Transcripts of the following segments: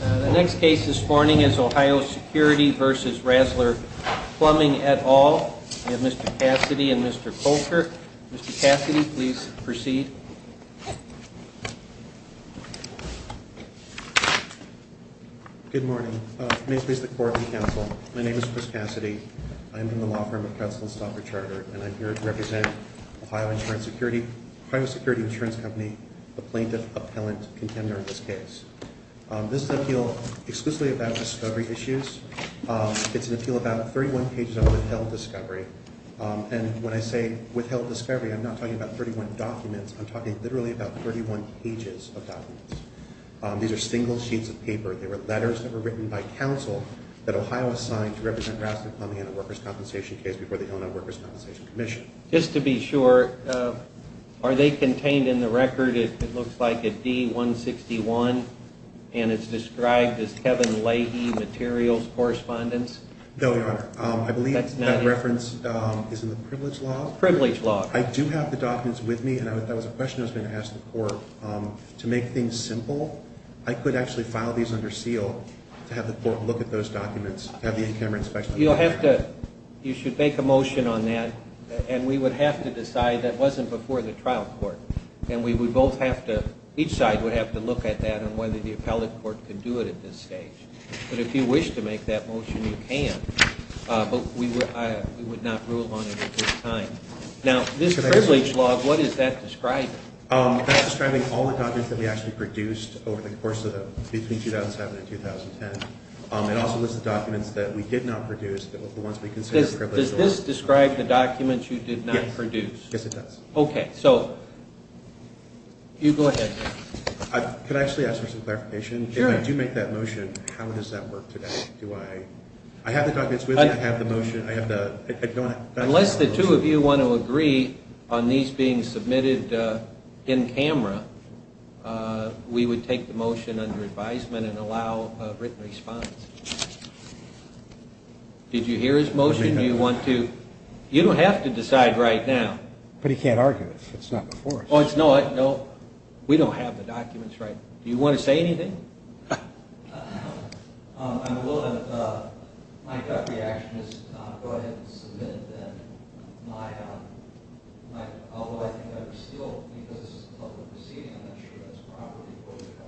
The next case this morning is Ohio Security v. Rasler Plumbing et al. We have Mr. Cassidy and Mr. Colker. Mr. Cassidy, please proceed. Good morning. May it please the Court and Counsel, my name is Chris Cassidy. I am from the law firm of Counsel and Stalker Charter and I'm here to represent Ohio Insurance Security Ohio Security Insurance Company, a plaintiff-appellant contender in this case. This is an appeal exclusively about discovery issues. It's an appeal about 31 pages of withheld discovery. And when I say withheld discovery, I'm not talking about 31 documents. I'm talking literally about 31 pages of documents. These are single sheets of paper. They were letters that were written by counsel that Ohio assigned to represent Rasler Plumbing in a workers' compensation case before the Illinois Workers' Compensation Commission. Just to be sure, are they contained in the record? It looks like a D-161 and it's described as Kevin Leahy Materials Correspondence? No, Your Honor. I believe that reference is in the Privilege Law. Privilege Law. I do have the documents with me and that was a question I was going to ask the Court. To make things simple, I could actually file these under seal to have the Court look at those documents, to have the in-camera inspection. You should make a motion on that, and we would have to decide that it wasn't before the trial court. And we would both have to, each side would have to look at that and whether the appellate court could do it at this stage. But if you wish to make that motion, you can, but we would not rule on it at this time. Now, this Privilege Law, what is that describing? That's describing all the documents that we actually produced between 2007 and 2010. It also lists the documents that we did not produce, the ones we consider Privilege Law. Does this describe the documents you did not produce? Yes, it does. Okay, so you go ahead. Could I actually ask for some clarification? Sure. If I do make that motion, how does that work today? I have the documents with me, I have the motion. Unless the two of you want to agree on these being submitted in-camera, we would take the motion under advisement and allow a written response. Did you hear his motion? Do you want to? You don't have to decide right now. But he can't argue if it's not before. No, we don't have the documents right. Do you want to say anything? My gut reaction is to go ahead and submit it then. Although I think I would still, because it's a public proceeding, I'm not sure that's proper.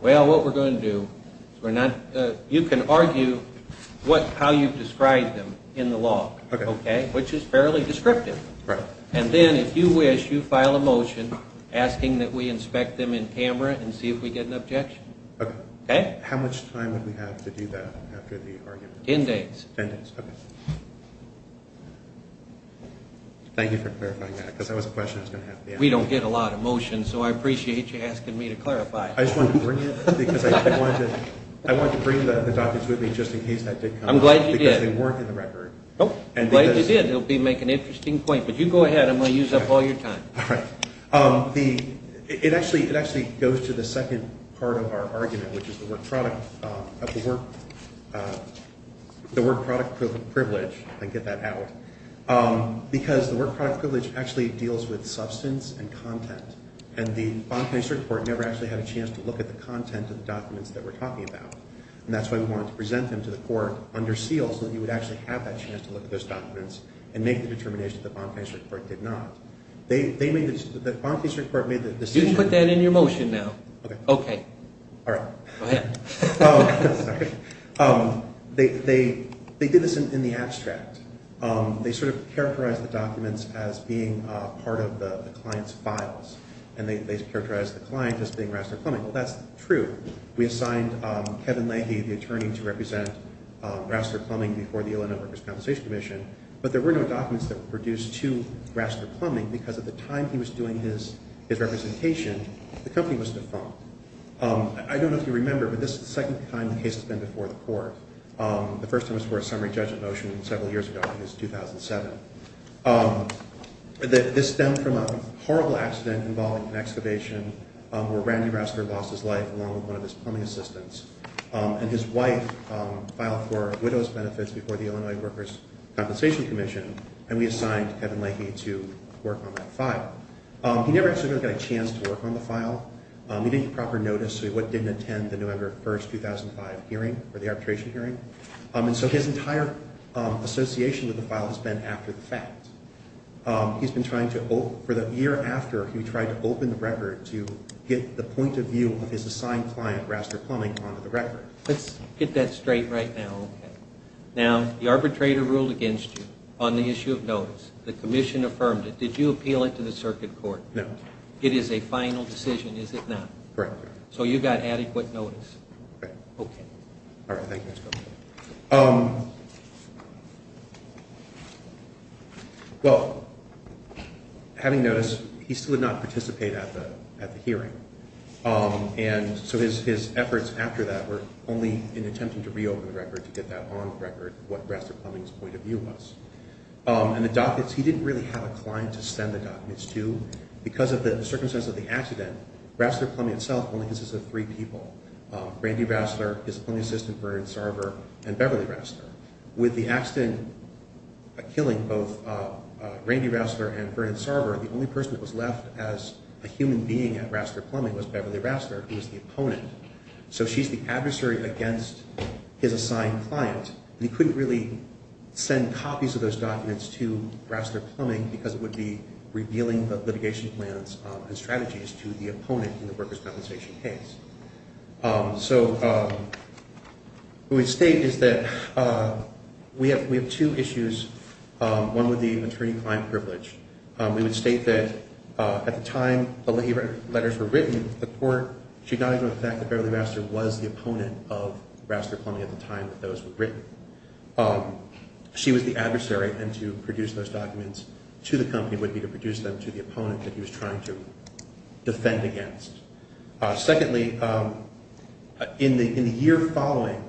Well, what we're going to do, you can argue how you've described them in the law, okay, which is fairly descriptive. And then, if you wish, you file a motion asking that we inspect them in-camera and see if we get an objection. Okay. How much time would we have to do that after the argument? Ten days. Ten days, okay. Thank you for clarifying that, because that was a question I was going to have to answer. We don't get a lot of motions, so I appreciate you asking me to clarify. I just wanted to bring it because I wanted to bring the documents with me just in case that did come up. I'm glad you did. Because they weren't in the record. I'm glad you did. It will make an interesting point. But you go ahead. I'm going to use up all your time. All right. It actually goes to the second part of our argument, which is the work-product privilege, if I can get that out, because the work-product privilege actually deals with substance and content. And the Bonn Case Report never actually had a chance to look at the content of the documents that we're talking about. And that's why we wanted to present them to the court under seal, so that you would actually have that chance to look at those documents and make the determination that the Bonn Case Report did not. The Bonn Case Report made the decision. You can put that in your motion now. Okay. Okay. All right. Go ahead. Oh, sorry. They did this in the abstract. They sort of characterized the documents as being part of the client's files, and they characterized the client as being Rassler Plumbing. Well, that's true. We assigned Kevin Leahy, the attorney, to represent Rassler Plumbing before the Illinois Workers' Compensation Commission, but there were no documents that were produced to Rassler Plumbing, because at the time he was doing his representation, the company was defunct. I don't know if you remember, but this is the second time the case has been before the court. The first time it was before a summary judgment motion was several years ago, and it was 2007. This stemmed from a horrible accident involving an excavation where Randy Rassler lost his life along with one of his plumbing assistants. And his wife filed for widow's benefits before the Illinois Workers' Compensation Commission, and we assigned Kevin Leahy to work on that file. He never actually got a chance to work on the file. He didn't get proper notice of what didn't attend the November 1, 2005 hearing or the arbitration hearing. And so his entire association with the file has been after the fact. He's been trying to, for the year after he tried to open the record to get the point of view of his assigned client, Rassler Plumbing, onto the record. Let's get that straight right now. Okay. Now, the arbitrator ruled against you on the issue of notice. The commission affirmed it. Did you appeal it to the circuit court? No. It is a final decision, is it not? Correct. So you got adequate notice? Correct. Okay. All right. Thank you, Mr. Governor. Well, having notice, he still did not participate at the hearing. And so his efforts after that were only in an attempt to reopen the record, to get that on the record, what Rassler Plumbing's point of view was. And the documents, he didn't really have a client to send the documents to. Because of the circumstances of the accident, Rassler Plumbing itself only consisted of three people. Randy Rassler, his plumbing assistant, Vernon Sarver, and Beverly Rassler. With the accident killing both Randy Rassler and Vernon Sarver, the only person that was left as a human being at Rassler Plumbing was Beverly Rassler, who was the opponent. So she's the adversary against his assigned client. And he couldn't really send copies of those documents to Rassler Plumbing because it would be revealing the litigation plans and strategies to the opponent in the workers' compensation case. So what we state is that we have two issues, one with the attorney-client privilege. We would state that at the time the letters were written, the court should not ignore the fact that Beverly Rassler was the opponent of Rassler Plumbing at the time that those were written. She was the adversary, and to produce those documents to the company would be to produce them to the opponent that he was trying to defend against. Secondly, in the year following,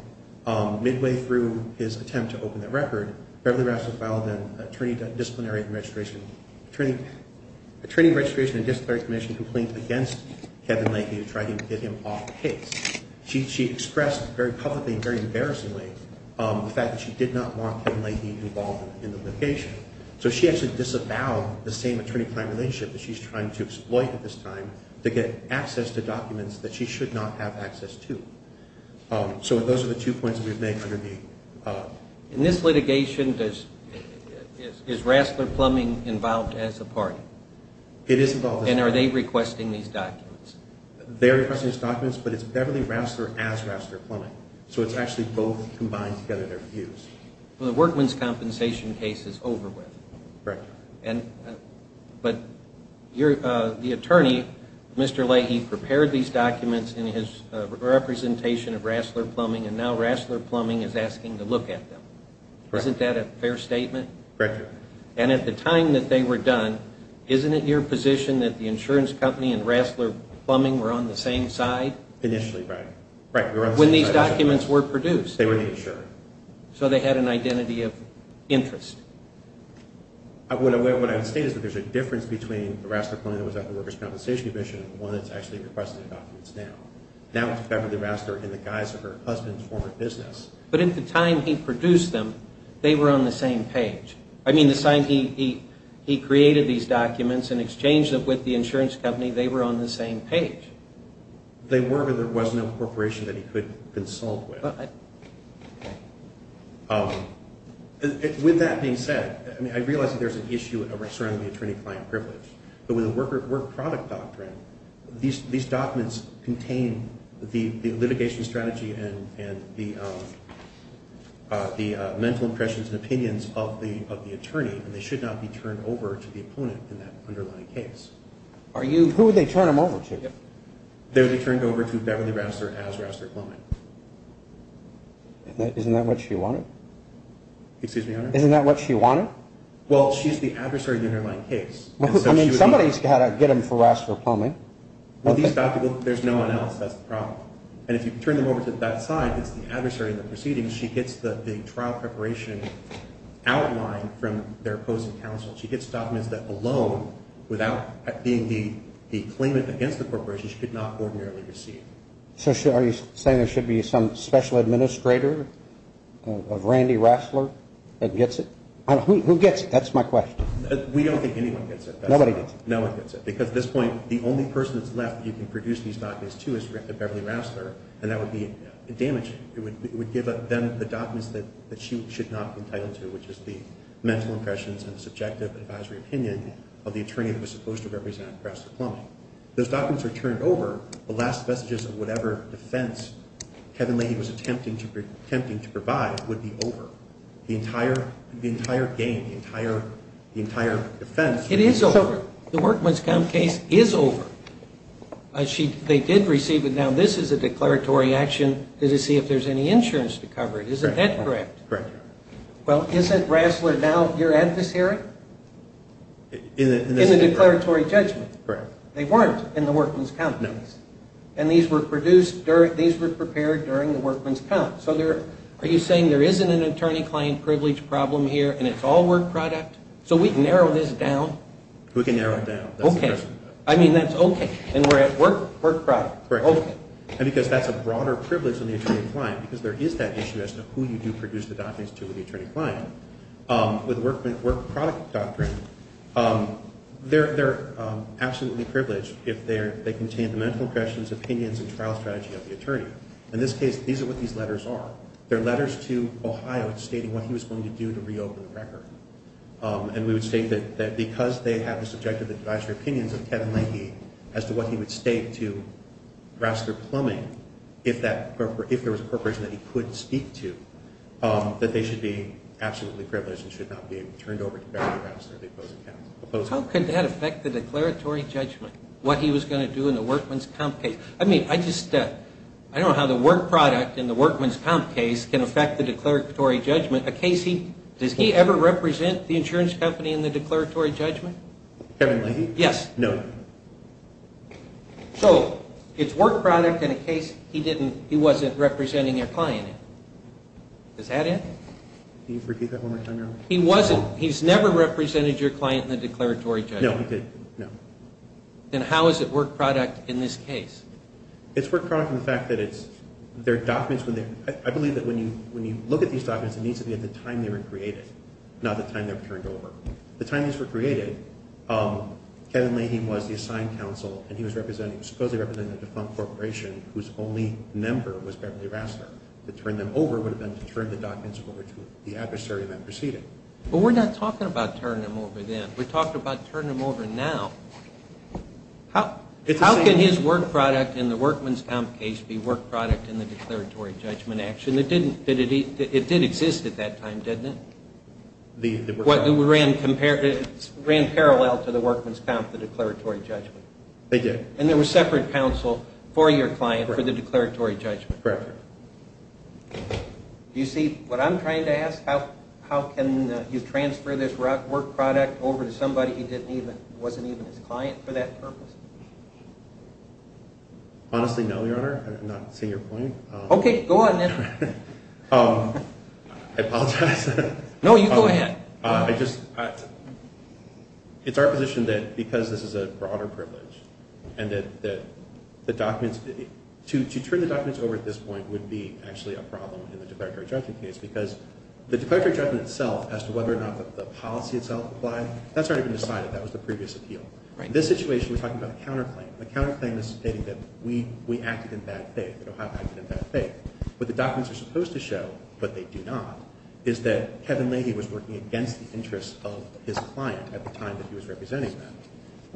midway through his attempt to open that record, Beverly Rassler filed an attorney disciplinary registration complaint against Kevin Leahy to try to get him off the case. She expressed very publicly and very embarrassingly the fact that she did not want Kevin Leahy involved in the litigation. So she actually disavowed the same attorney-client relationship that she's trying to exploit at this time to get access to documents that she should not have access to. So those are the two points that we've made under the... In this litigation, is Rassler Plumbing involved as a party? It is involved as a party. And are they requesting these documents? They're requesting these documents, but it's Beverly Rassler as Rassler Plumbing. So it's actually both combined together, their views. The Workman's Compensation case is over with. Correct. But the attorney, Mr. Leahy, prepared these documents in his representation of Rassler Plumbing, and now Rassler Plumbing is asking to look at them. Isn't that a fair statement? Correct. And at the time that they were done, isn't it your position that the insurance company and Rassler Plumbing were on the same side? Initially, right. When these documents were produced. They were the insurance. So they had an identity of interest. What I would state is that there's a difference between Rassler Plumbing that was at the Worker's Compensation Commission and the one that's actually requesting the documents now. Now it's Beverly Rassler in the guise of her husband's former business. But at the time he produced them, they were on the same page. I mean, the sign he created these documents and exchanged them with the insurance company, they were on the same page. They were, but there was no corporation that he could consult with. Okay. With that being said, I realize that there's an issue surrounding the attorney-client privilege. But with the Work Product Doctrine, these documents contain the litigation strategy and the mental impressions and opinions of the attorney, and they should not be turned over to the opponent in that underlying case. Who would they turn them over to? They would be turned over to Beverly Rassler as Rassler Plumbing. Isn't that what she wanted? Excuse me, Your Honor? Isn't that what she wanted? Well, she's the adversary in the underlying case. I mean, somebody's got to get them for Rassler Plumbing. Well, these documents, there's no one else. That's the problem. And if you turn them over to that side, it's the adversary in the proceedings. She gets the trial preparation outline from their opposing counsel. She gets documents that alone, without being the claimant against the corporation, she could not ordinarily receive. So are you saying there should be some special administrator of Randy Rassler that gets it? Who gets it? That's my question. We don't think anyone gets it. Nobody gets it. No one gets it, because at this point, the only person that's left that you can produce these documents to is Beverly Rassler, and that would be damaging. It would give them the documents that she should not be entitled to, which is the mental impressions and the subjective advisory opinion of the attorney that was supposed to represent Rassler Plumbing. If those documents are turned over, the last vestiges of whatever defense Kevin Leahy was attempting to provide would be over. The entire game, the entire defense would be over. It is over. The workman's comp case is over. They did receive it. Now, this is a declaratory action to see if there's any insurance to cover it. Isn't that correct? Correct. Well, isn't Rassler now your adversary in the declaratory judgment? Correct. They weren't in the workman's comp case. No. And these were produced during the workman's comp. So are you saying there isn't an attorney-client privilege problem here and it's all work product? So we can narrow this down. We can narrow it down. Okay. I mean, that's okay. And we're at work product. Correct. Okay. And because that's a broader privilege on the attorney-client, because there is that issue as to who you do produce the documents to with the attorney-client, with work product doctrine, they're absolutely privileged if they contain the medical questions, opinions, and trial strategy of the attorney. In this case, these are what these letters are. They're letters to Ohio stating what he was going to do to reopen the record. And we would state that because they have the subjective advisory opinions of Kevin Leahy as to what he would state to Rassler Plumbing if there was a corporation that he could speak to, that they should be absolutely privileged and should not be turned over to Barry Rassler, the opposing counsel. How could that affect the declaratory judgment, what he was going to do in the workman's comp case? I mean, I don't know how the work product in the workman's comp case can affect the declaratory judgment. Does he ever represent the insurance company in the declaratory judgment? Kevin Leahy? Yes. No. So it's work product in a case he wasn't representing a client in. Is that it? Can you repeat that one more time, Your Honor? He wasn't. He's never represented your client in the declaratory judgment. No, he didn't. No. Then how is it work product in this case? It's work product in the fact that there are documents. I believe that when you look at these documents, it needs to be at the time they were created, not the time they were turned over. The time these were created, Kevin Leahy was the assigned counsel, and he was supposedly representing a defunct corporation whose only member was Beverly Rassler. To turn them over would have been to turn the documents over to the adversary that preceded. But we're not talking about turning them over then. We're talking about turning them over now. How can his work product in the workman's comp case be work product in the declaratory judgment action? It did exist at that time, didn't it? It ran parallel to the workman's comp, the declaratory judgment. It did. And there was separate counsel for your client for the declaratory judgment. Correct. Do you see what I'm trying to ask? How can you transfer this work product over to somebody who wasn't even his client for that purpose? Honestly, no, Your Honor. I'm not seeing your point. Okay, go on then. I apologize. No, you go ahead. I just – it's our position that because this is a broader privilege and that the documents – to turn the documents over at this point would be actually a problem in the declaratory judgment case because the declaratory judgment itself as to whether or not the policy itself applied, that's not even decided. That was the previous appeal. Right. In this situation, we're talking about a counterclaim. A counterclaim is stating that we acted in bad faith. We don't have to act in bad faith. What the documents are supposed to show, but they do not, is that Kevin Leahy was working against the interests of his client at the time that he was representing them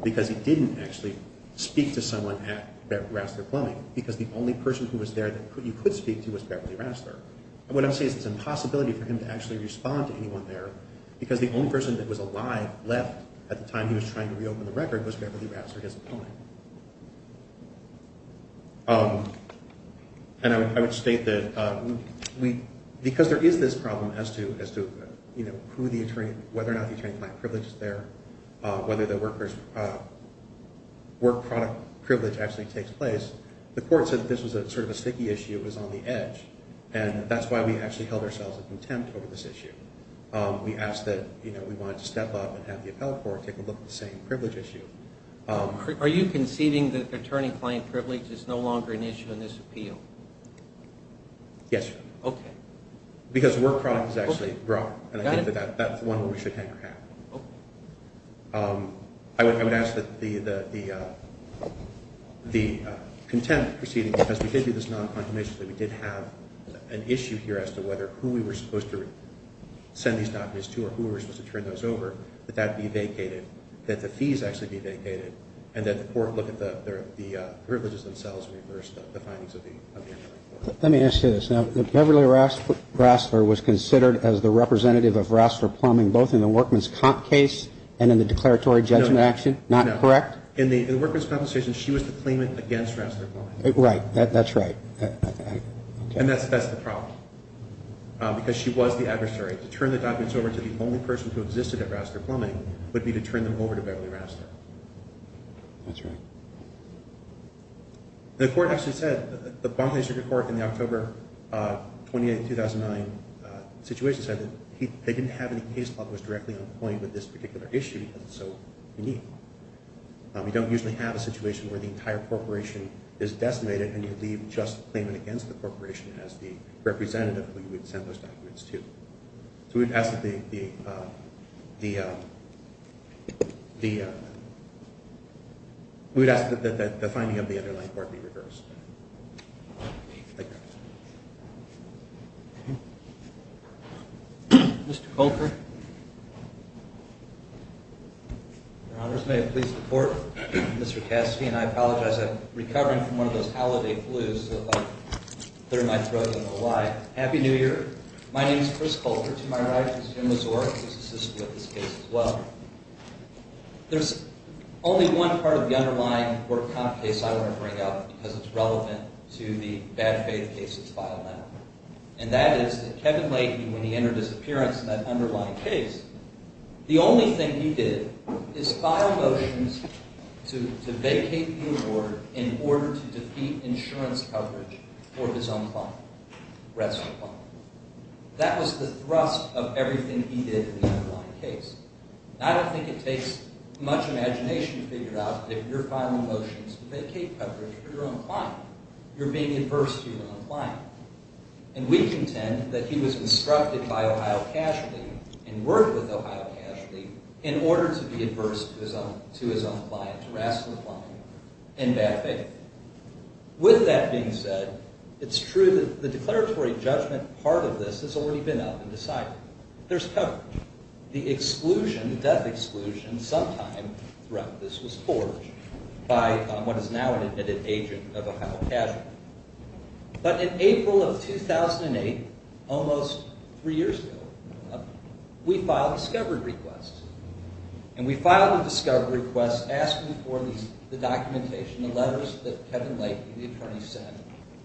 because he didn't actually speak to someone at Rassler Plumbing because the only person who was there that you could speak to was Beverly Rassler. And what I'm saying is it's an impossibility for him to actually respond to anyone there because the only person that was alive left at the time he was trying to reopen the record was Beverly Rassler, his opponent. And I would state that because there is this problem as to whether or not the attorney client privilege is there, whether the workers' work product privilege actually takes place, the court said that this was sort of a sticky issue. It was on the edge. And that's why we actually held ourselves in contempt over this issue. We asked that we wanted to step up and have the appellate court take a look at the same privilege issue. Are you conceding that attorney client privilege is no longer an issue in this appeal? Yes, sir. Okay. Because the work product is actually wrong. Got it. And I think that that's the one we should have. Okay. I would ask that the contempt proceeding, because we did do this non-condemnation, that we did have an issue here as to whether who we were supposed to send these documents to or who we were supposed to turn those over, that that be vacated, that the fees actually be vacated, and that the court look at the privileges themselves and reverse the findings of the appellate court. Let me ask you this. Now, Beverly Rassler was considered as the representative of Rassler Plumbing both in the workman's comp case and in the declaratory judgment action. Not correct? In the workman's compensation, she was the claimant against Rassler Plumbing. Right. That's right. And that's the problem because she was the adversary. To turn the documents over to the only person who existed at Rassler Plumbing would be to turn them over to Beverly Rassler. That's right. The court actually said, the Bombay Circuit Court in the October 28, 2009 situation said that they didn't have any case law that was directly on point with this particular issue because it's so unique. We don't usually have a situation where the entire corporation is decimated and you leave just the claimant against the corporation as the representative who you would send those documents to. So we would ask that the finding of the underlying court be reversed. Thank you. Mr. Coker. Your Honors, may I please report? Mr. Cassidy and I apologize. I'm recovering from one of those holiday flus. They're in my throat. I don't know why. Happy New Year. My name is Chris Coker. To my right is Jim Mazur, who's assisted with this case as well. There's only one part of the underlying workman's comp case I want to bring up because it's relevant to the bad faith case that's filed now. And that is that Kevin Leahy, when he entered his appearance in that underlying case, the only thing he did is file motions to vacate the award in order to defeat insurance coverage for his own client. The rest were fine. That was the thrust of everything he did in the underlying case. I don't think it takes much imagination to figure out if you're filing motions to vacate coverage for your own client, you're being adverse to your own client. And we contend that he was instructed by Ohio Casualty and worked with Ohio Casualty in order to be adverse to his own client, to Rasslin's client, in bad faith. With that being said, it's true that the declaratory judgment part of this has already been up and decided. There's coverage. The exclusion, the death exclusion sometime throughout this was forged by what is now an admitted agent of Ohio Casualty. But in April of 2008, almost three years ago, we filed a discovered request. And we filed a discovered request asking for the documentation, the letters that Kevin Leahy, the attorney, sent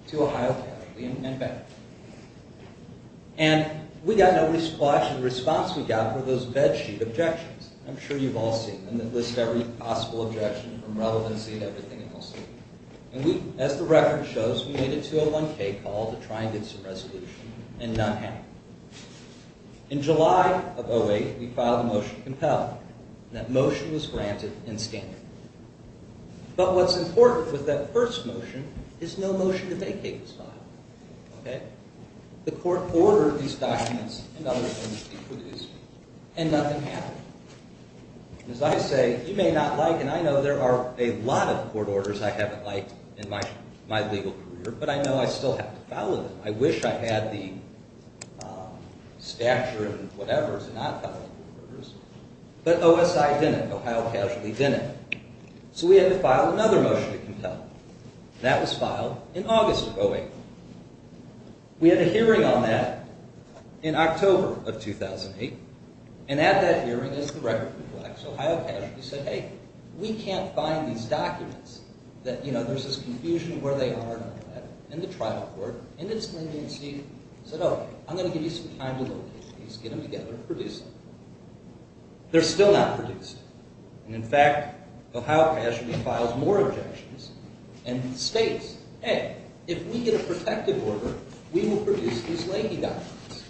to Ohio Casualty and back. And we got no response. The response we got were those bed sheet objections. I'm sure you've all seen them. They list every possible objection from relevancy and everything else. And as the record shows, we made a 201K call to try and get some resolution, and none happened. In July of 2008, we filed a motion to compel. And that motion was granted in standing. But what's important with that first motion is no motion to vacate the file. The court ordered these documents and other things to be produced, and nothing happened. As I say, you may not like, and I know there are a lot of court orders I haven't liked in my legal career, but I know I still have to follow them. I wish I had the stature and whatever to not follow court orders, but OSI didn't. Ohio Casualty didn't. So we had to file another motion to compel. And that was filed in August of 2008. We had a hearing on that in October of 2008. And at that hearing, as the record reflects, Ohio Casualty said, hey, we can't find these documents. You know, there's this confusion where they are and all that. And the trial court, in its leniency, said, oh, I'm going to give you some time to look at these. Get them together and produce them. They're still not produced. And in fact, Ohio Casualty files more objections and states, hey, if we get a protective order, we will produce these Leahy documents.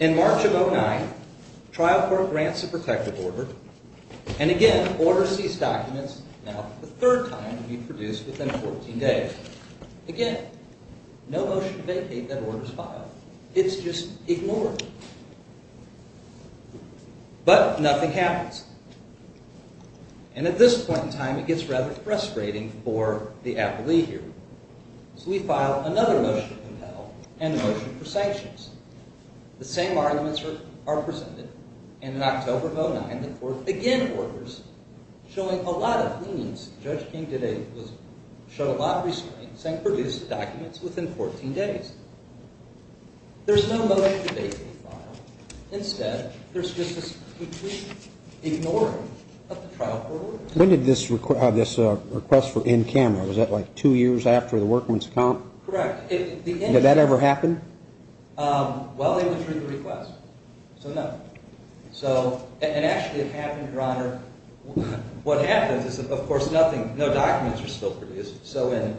In March of 2009, trial court grants a protective order. And again, orders these documents now for the third time to be produced within 14 days. Again, no motion to vacate that order is filed. It's just ignored. But nothing happens. And at this point in time, it gets rather frustrating for the appellee here. So we file another motion to compel and a motion for sanctions. The same arguments are presented. And in October of 2009, the court again orders, showing a lot of leniency. Judge King showed a lot of restraints and produced the documents within 14 days. There's no motion to vacate the file. Instead, there's just this complete ignoring of the trial court orders. When did this request for in camera? Was that like two years after the workman's comp? Correct. Did that ever happen? Well, it was through the request. So no. And actually, it happened, Your Honor. What happens is, of course, no documents are still produced. So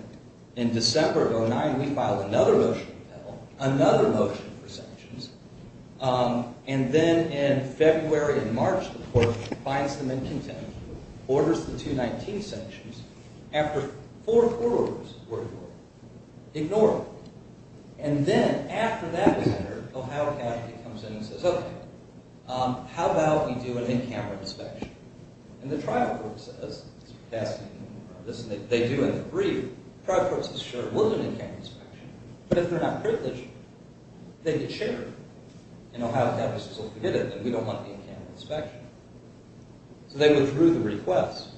in December of 2009, we file another motion to compel, another motion for sanctions. And then in February and March, the court finds them in contempt. Orders the 219 sanctions. After four court orders were ignored. Ignored. And then, after that was heard, Ohio Academy comes in and says, Okay, how about we do an in camera inspection? And the trial court says, They do agree. The trial court says, sure, we'll do an in camera inspection. But if they're not privileged, they can share. And Ohio Academy says, well, forget it. We don't want an in camera inspection. So they withdrew the request.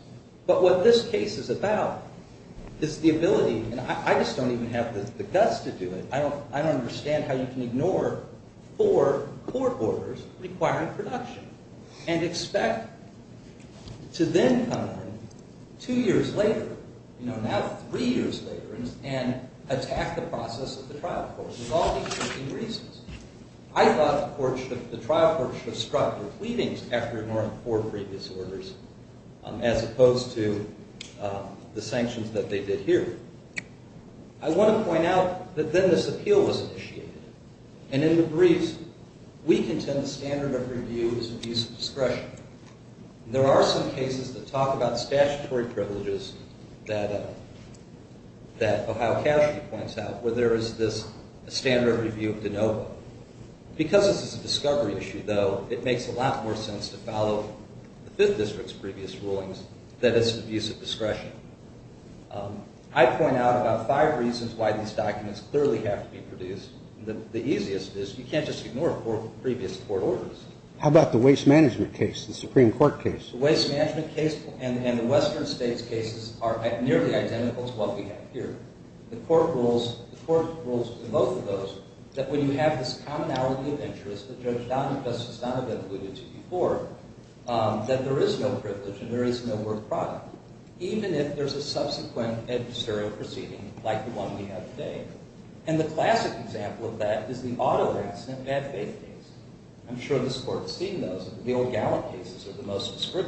But what this case is about is the ability, and I just don't even have the guts to do it. I don't understand how you can ignore four court orders requiring production. And expect to then come in two years later, you know, now three years later, and attack the process of the trial court for all these different reasons. I thought the trial court should have struck with pleadings after ignoring four previous orders, as opposed to the sanctions that they did here. I want to point out that then this appeal was initiated. And in the briefs, we contend the standard of review is abuse of discretion. There are some cases that talk about statutory privileges that Ohio Academy points out, where there is this standard of review of de novo. Because this is a discovery issue, though, it makes a lot more sense to follow the Fifth District's previous rulings that it's abuse of discretion. I point out about five reasons why these documents clearly have to be produced. The easiest is you can't just ignore four previous court orders. How about the waste management case, the Supreme Court case? The waste management case and the Western States cases are nearly identical to what we have here. The court rules in both of those that when you have this commonality of interest that Judge Donovan, Justice Donovan alluded to before, that there is no privilege and there is no work product. Even if there is a subsequent adversarial proceeding like the one we have today. And the classic example of that is the auto accident bad faith case. I'm sure this Court has seen those. The old Gallup cases are the most discreet.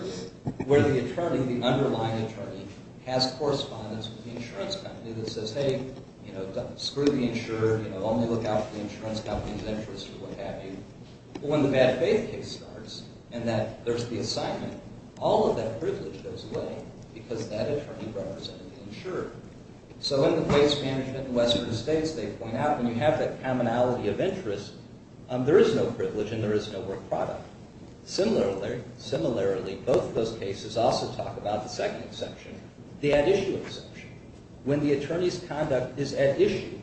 Where the attorney, the underlying attorney, has correspondence with the insurance company that says, hey, screw the insurer, only look out for the insurance company's interest, or what have you. But when the bad faith case starts, and there's the assignment, all of that privilege goes away because that attorney represented the insurer. So in the waste management in the Western States, they point out when you have that commonality of interest, there is no privilege and there is no work product. Similarly, both of those cases also talk about the second exception, the at issue exception. When the attorney's conduct is at issue,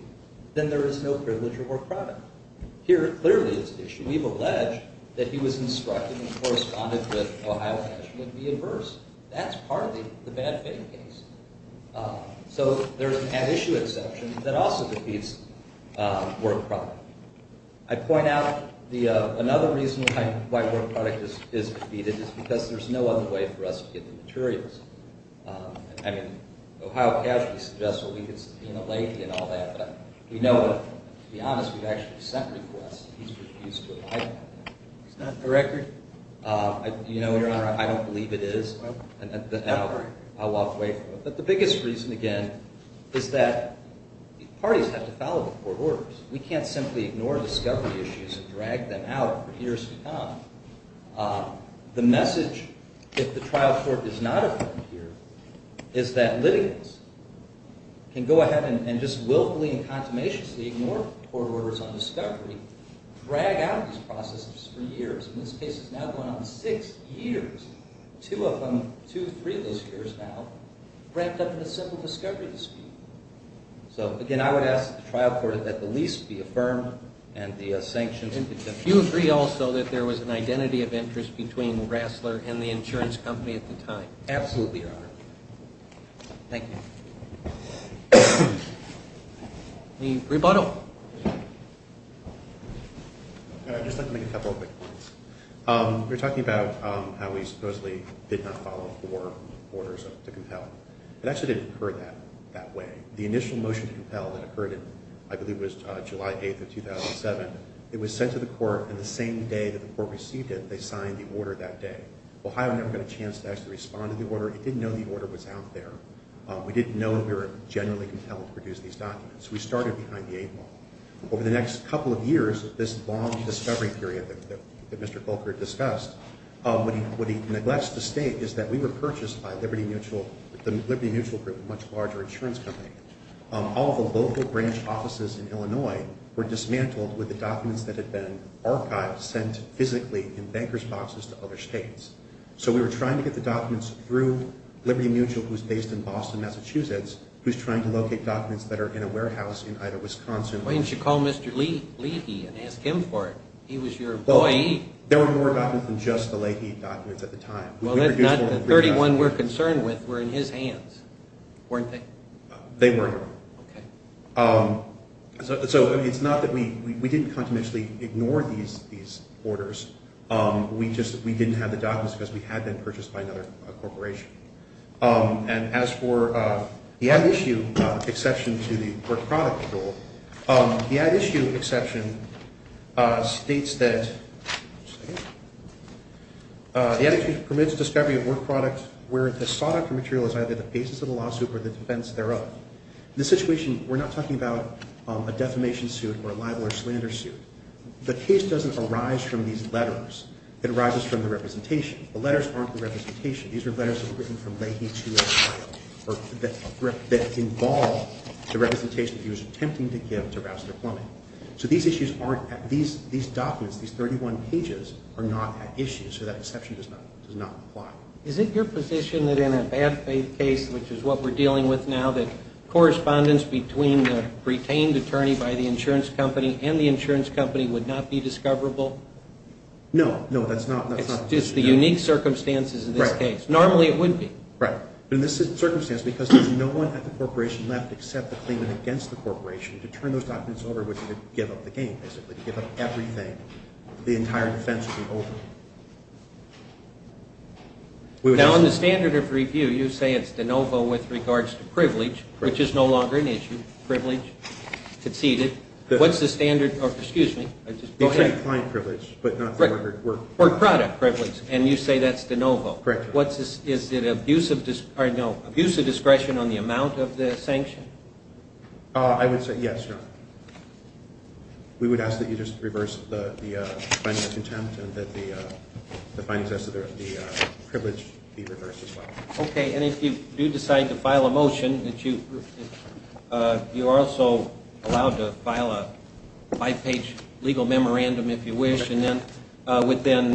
then there is no privilege or work product. Here, clearly, it's at issue. We've alleged that he was instructed that correspondence corresponded with Ohio cash would be adverse. That's part of the bad faith case. So there's an at issue exception that also defeats work product. I point out another reason why work product is defeated is because there's no other way for us to get the materials. I mean, Ohio cash, we suggest, well, we could see a lady and all that, but we know that, to be honest, we've actually sent requests and he's refused to abide by them. It's not a record. You know, Your Honor, I don't believe it is. I walked away from it. But the biggest reason, again, is that parties have to follow the court orders. We can't simply ignore discovery issues and drag them out for years to come. The message that the trial court does not affirm here is that litigants can go ahead and just willfully and consummationistly ignore court orders on discovery, drag out these processes for years. And this case is now going on six years. Two of them, two, three of those years now, wrapped up in a simple discovery dispute. So, again, I would ask the trial court that the lease be affirmed and the sanctions exempted. Do you agree also that there was an identity of interest between Rassler and the insurance company at the time? Absolutely, Your Honor. Thank you. Any rebuttal? I'd just like to make a couple of quick points. We were talking about how he supposedly did not follow court orders to compel. It actually didn't occur that way. The initial motion to compel that occurred in, I believe it was July 8th of 2007, it was sent to the court, and the same day that the court received it, they signed the order that day. Ohio never got a chance to actually respond to the order. It didn't know the order was out there. We didn't know that we were generally compelled to produce these documents. We started behind the eight ball. Over the next couple of years, this long discovery period that Mr. Kolker discussed, what he neglects to state is that we were purchased by Liberty Mutual, the Liberty Mutual Group, a much larger insurance company. All of the local branch offices in Illinois were dismantled with the documents that had been archived, sent physically in banker's boxes to other states. So we were trying to get the documents through Liberty Mutual, who's based in Boston, Massachusetts, who's trying to locate documents that are in a warehouse in either Wisconsin... Why didn't you call Mr. Leahy and ask him for it? He was your employee. There were more documents than just the Leahy documents at the time. Well, the 31 we're concerned with were in his hands, weren't they? They were. Okay. So it's not that we... We didn't continuously ignore these orders. We just... We didn't have the documents because we had been purchased by another corporation. And as for the ad issue exception to the work product rule, the ad issue exception states that... Just a second. The ad issue permits discovery of work products where the sought-after material is either the basis of the lawsuit or the defense thereof. In this situation, we're not talking about a defamation suit or a libel or a slander suit. The case doesn't arise from these letters. It arises from the representation. The letters aren't the representation. These are letters that were written from Leahy to his client that involve the representation that he was attempting to give to Rouster Plummet. So these issues aren't... These documents, these 31 pages, are not ad issues, so that exception does not apply. Is it your position that in a bad faith case, which is what we're dealing with now, that correspondence between the retained attorney by the insurance company and the insurance company would not be discoverable? No, no, that's not... It's just the unique circumstances of this case. Right. Normally it would be. Right. But in this circumstance, because there's no one at the corporation left except the claimant against the corporation, to turn those documents over would be to give up the game, basically, to give up everything. The entire defense would be over. Now, in the standard of review, you say it's de novo with regards to privilege, which is no longer an issue. Privilege succeeded. What's the standard... Excuse me. Go ahead. Client privilege, but not for work. For product privilege, and you say that's de novo. Correct. Is it abuse of discretion on the amount of the sanction? I would say yes, Your Honor. We would ask that you just reverse the finding of contempt and that the findings as to the privilege be reversed as well. Okay, and if you do decide to file a motion, you're also allowed to file a five-page legal memorandum if you wish, and then within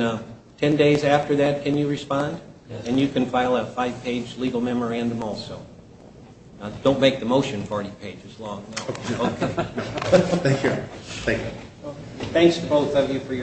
10 days after that, can you respond? And you can file a five-page legal memorandum also. Don't make the motion 40 pages long. Thank you. Thanks to both of you for your...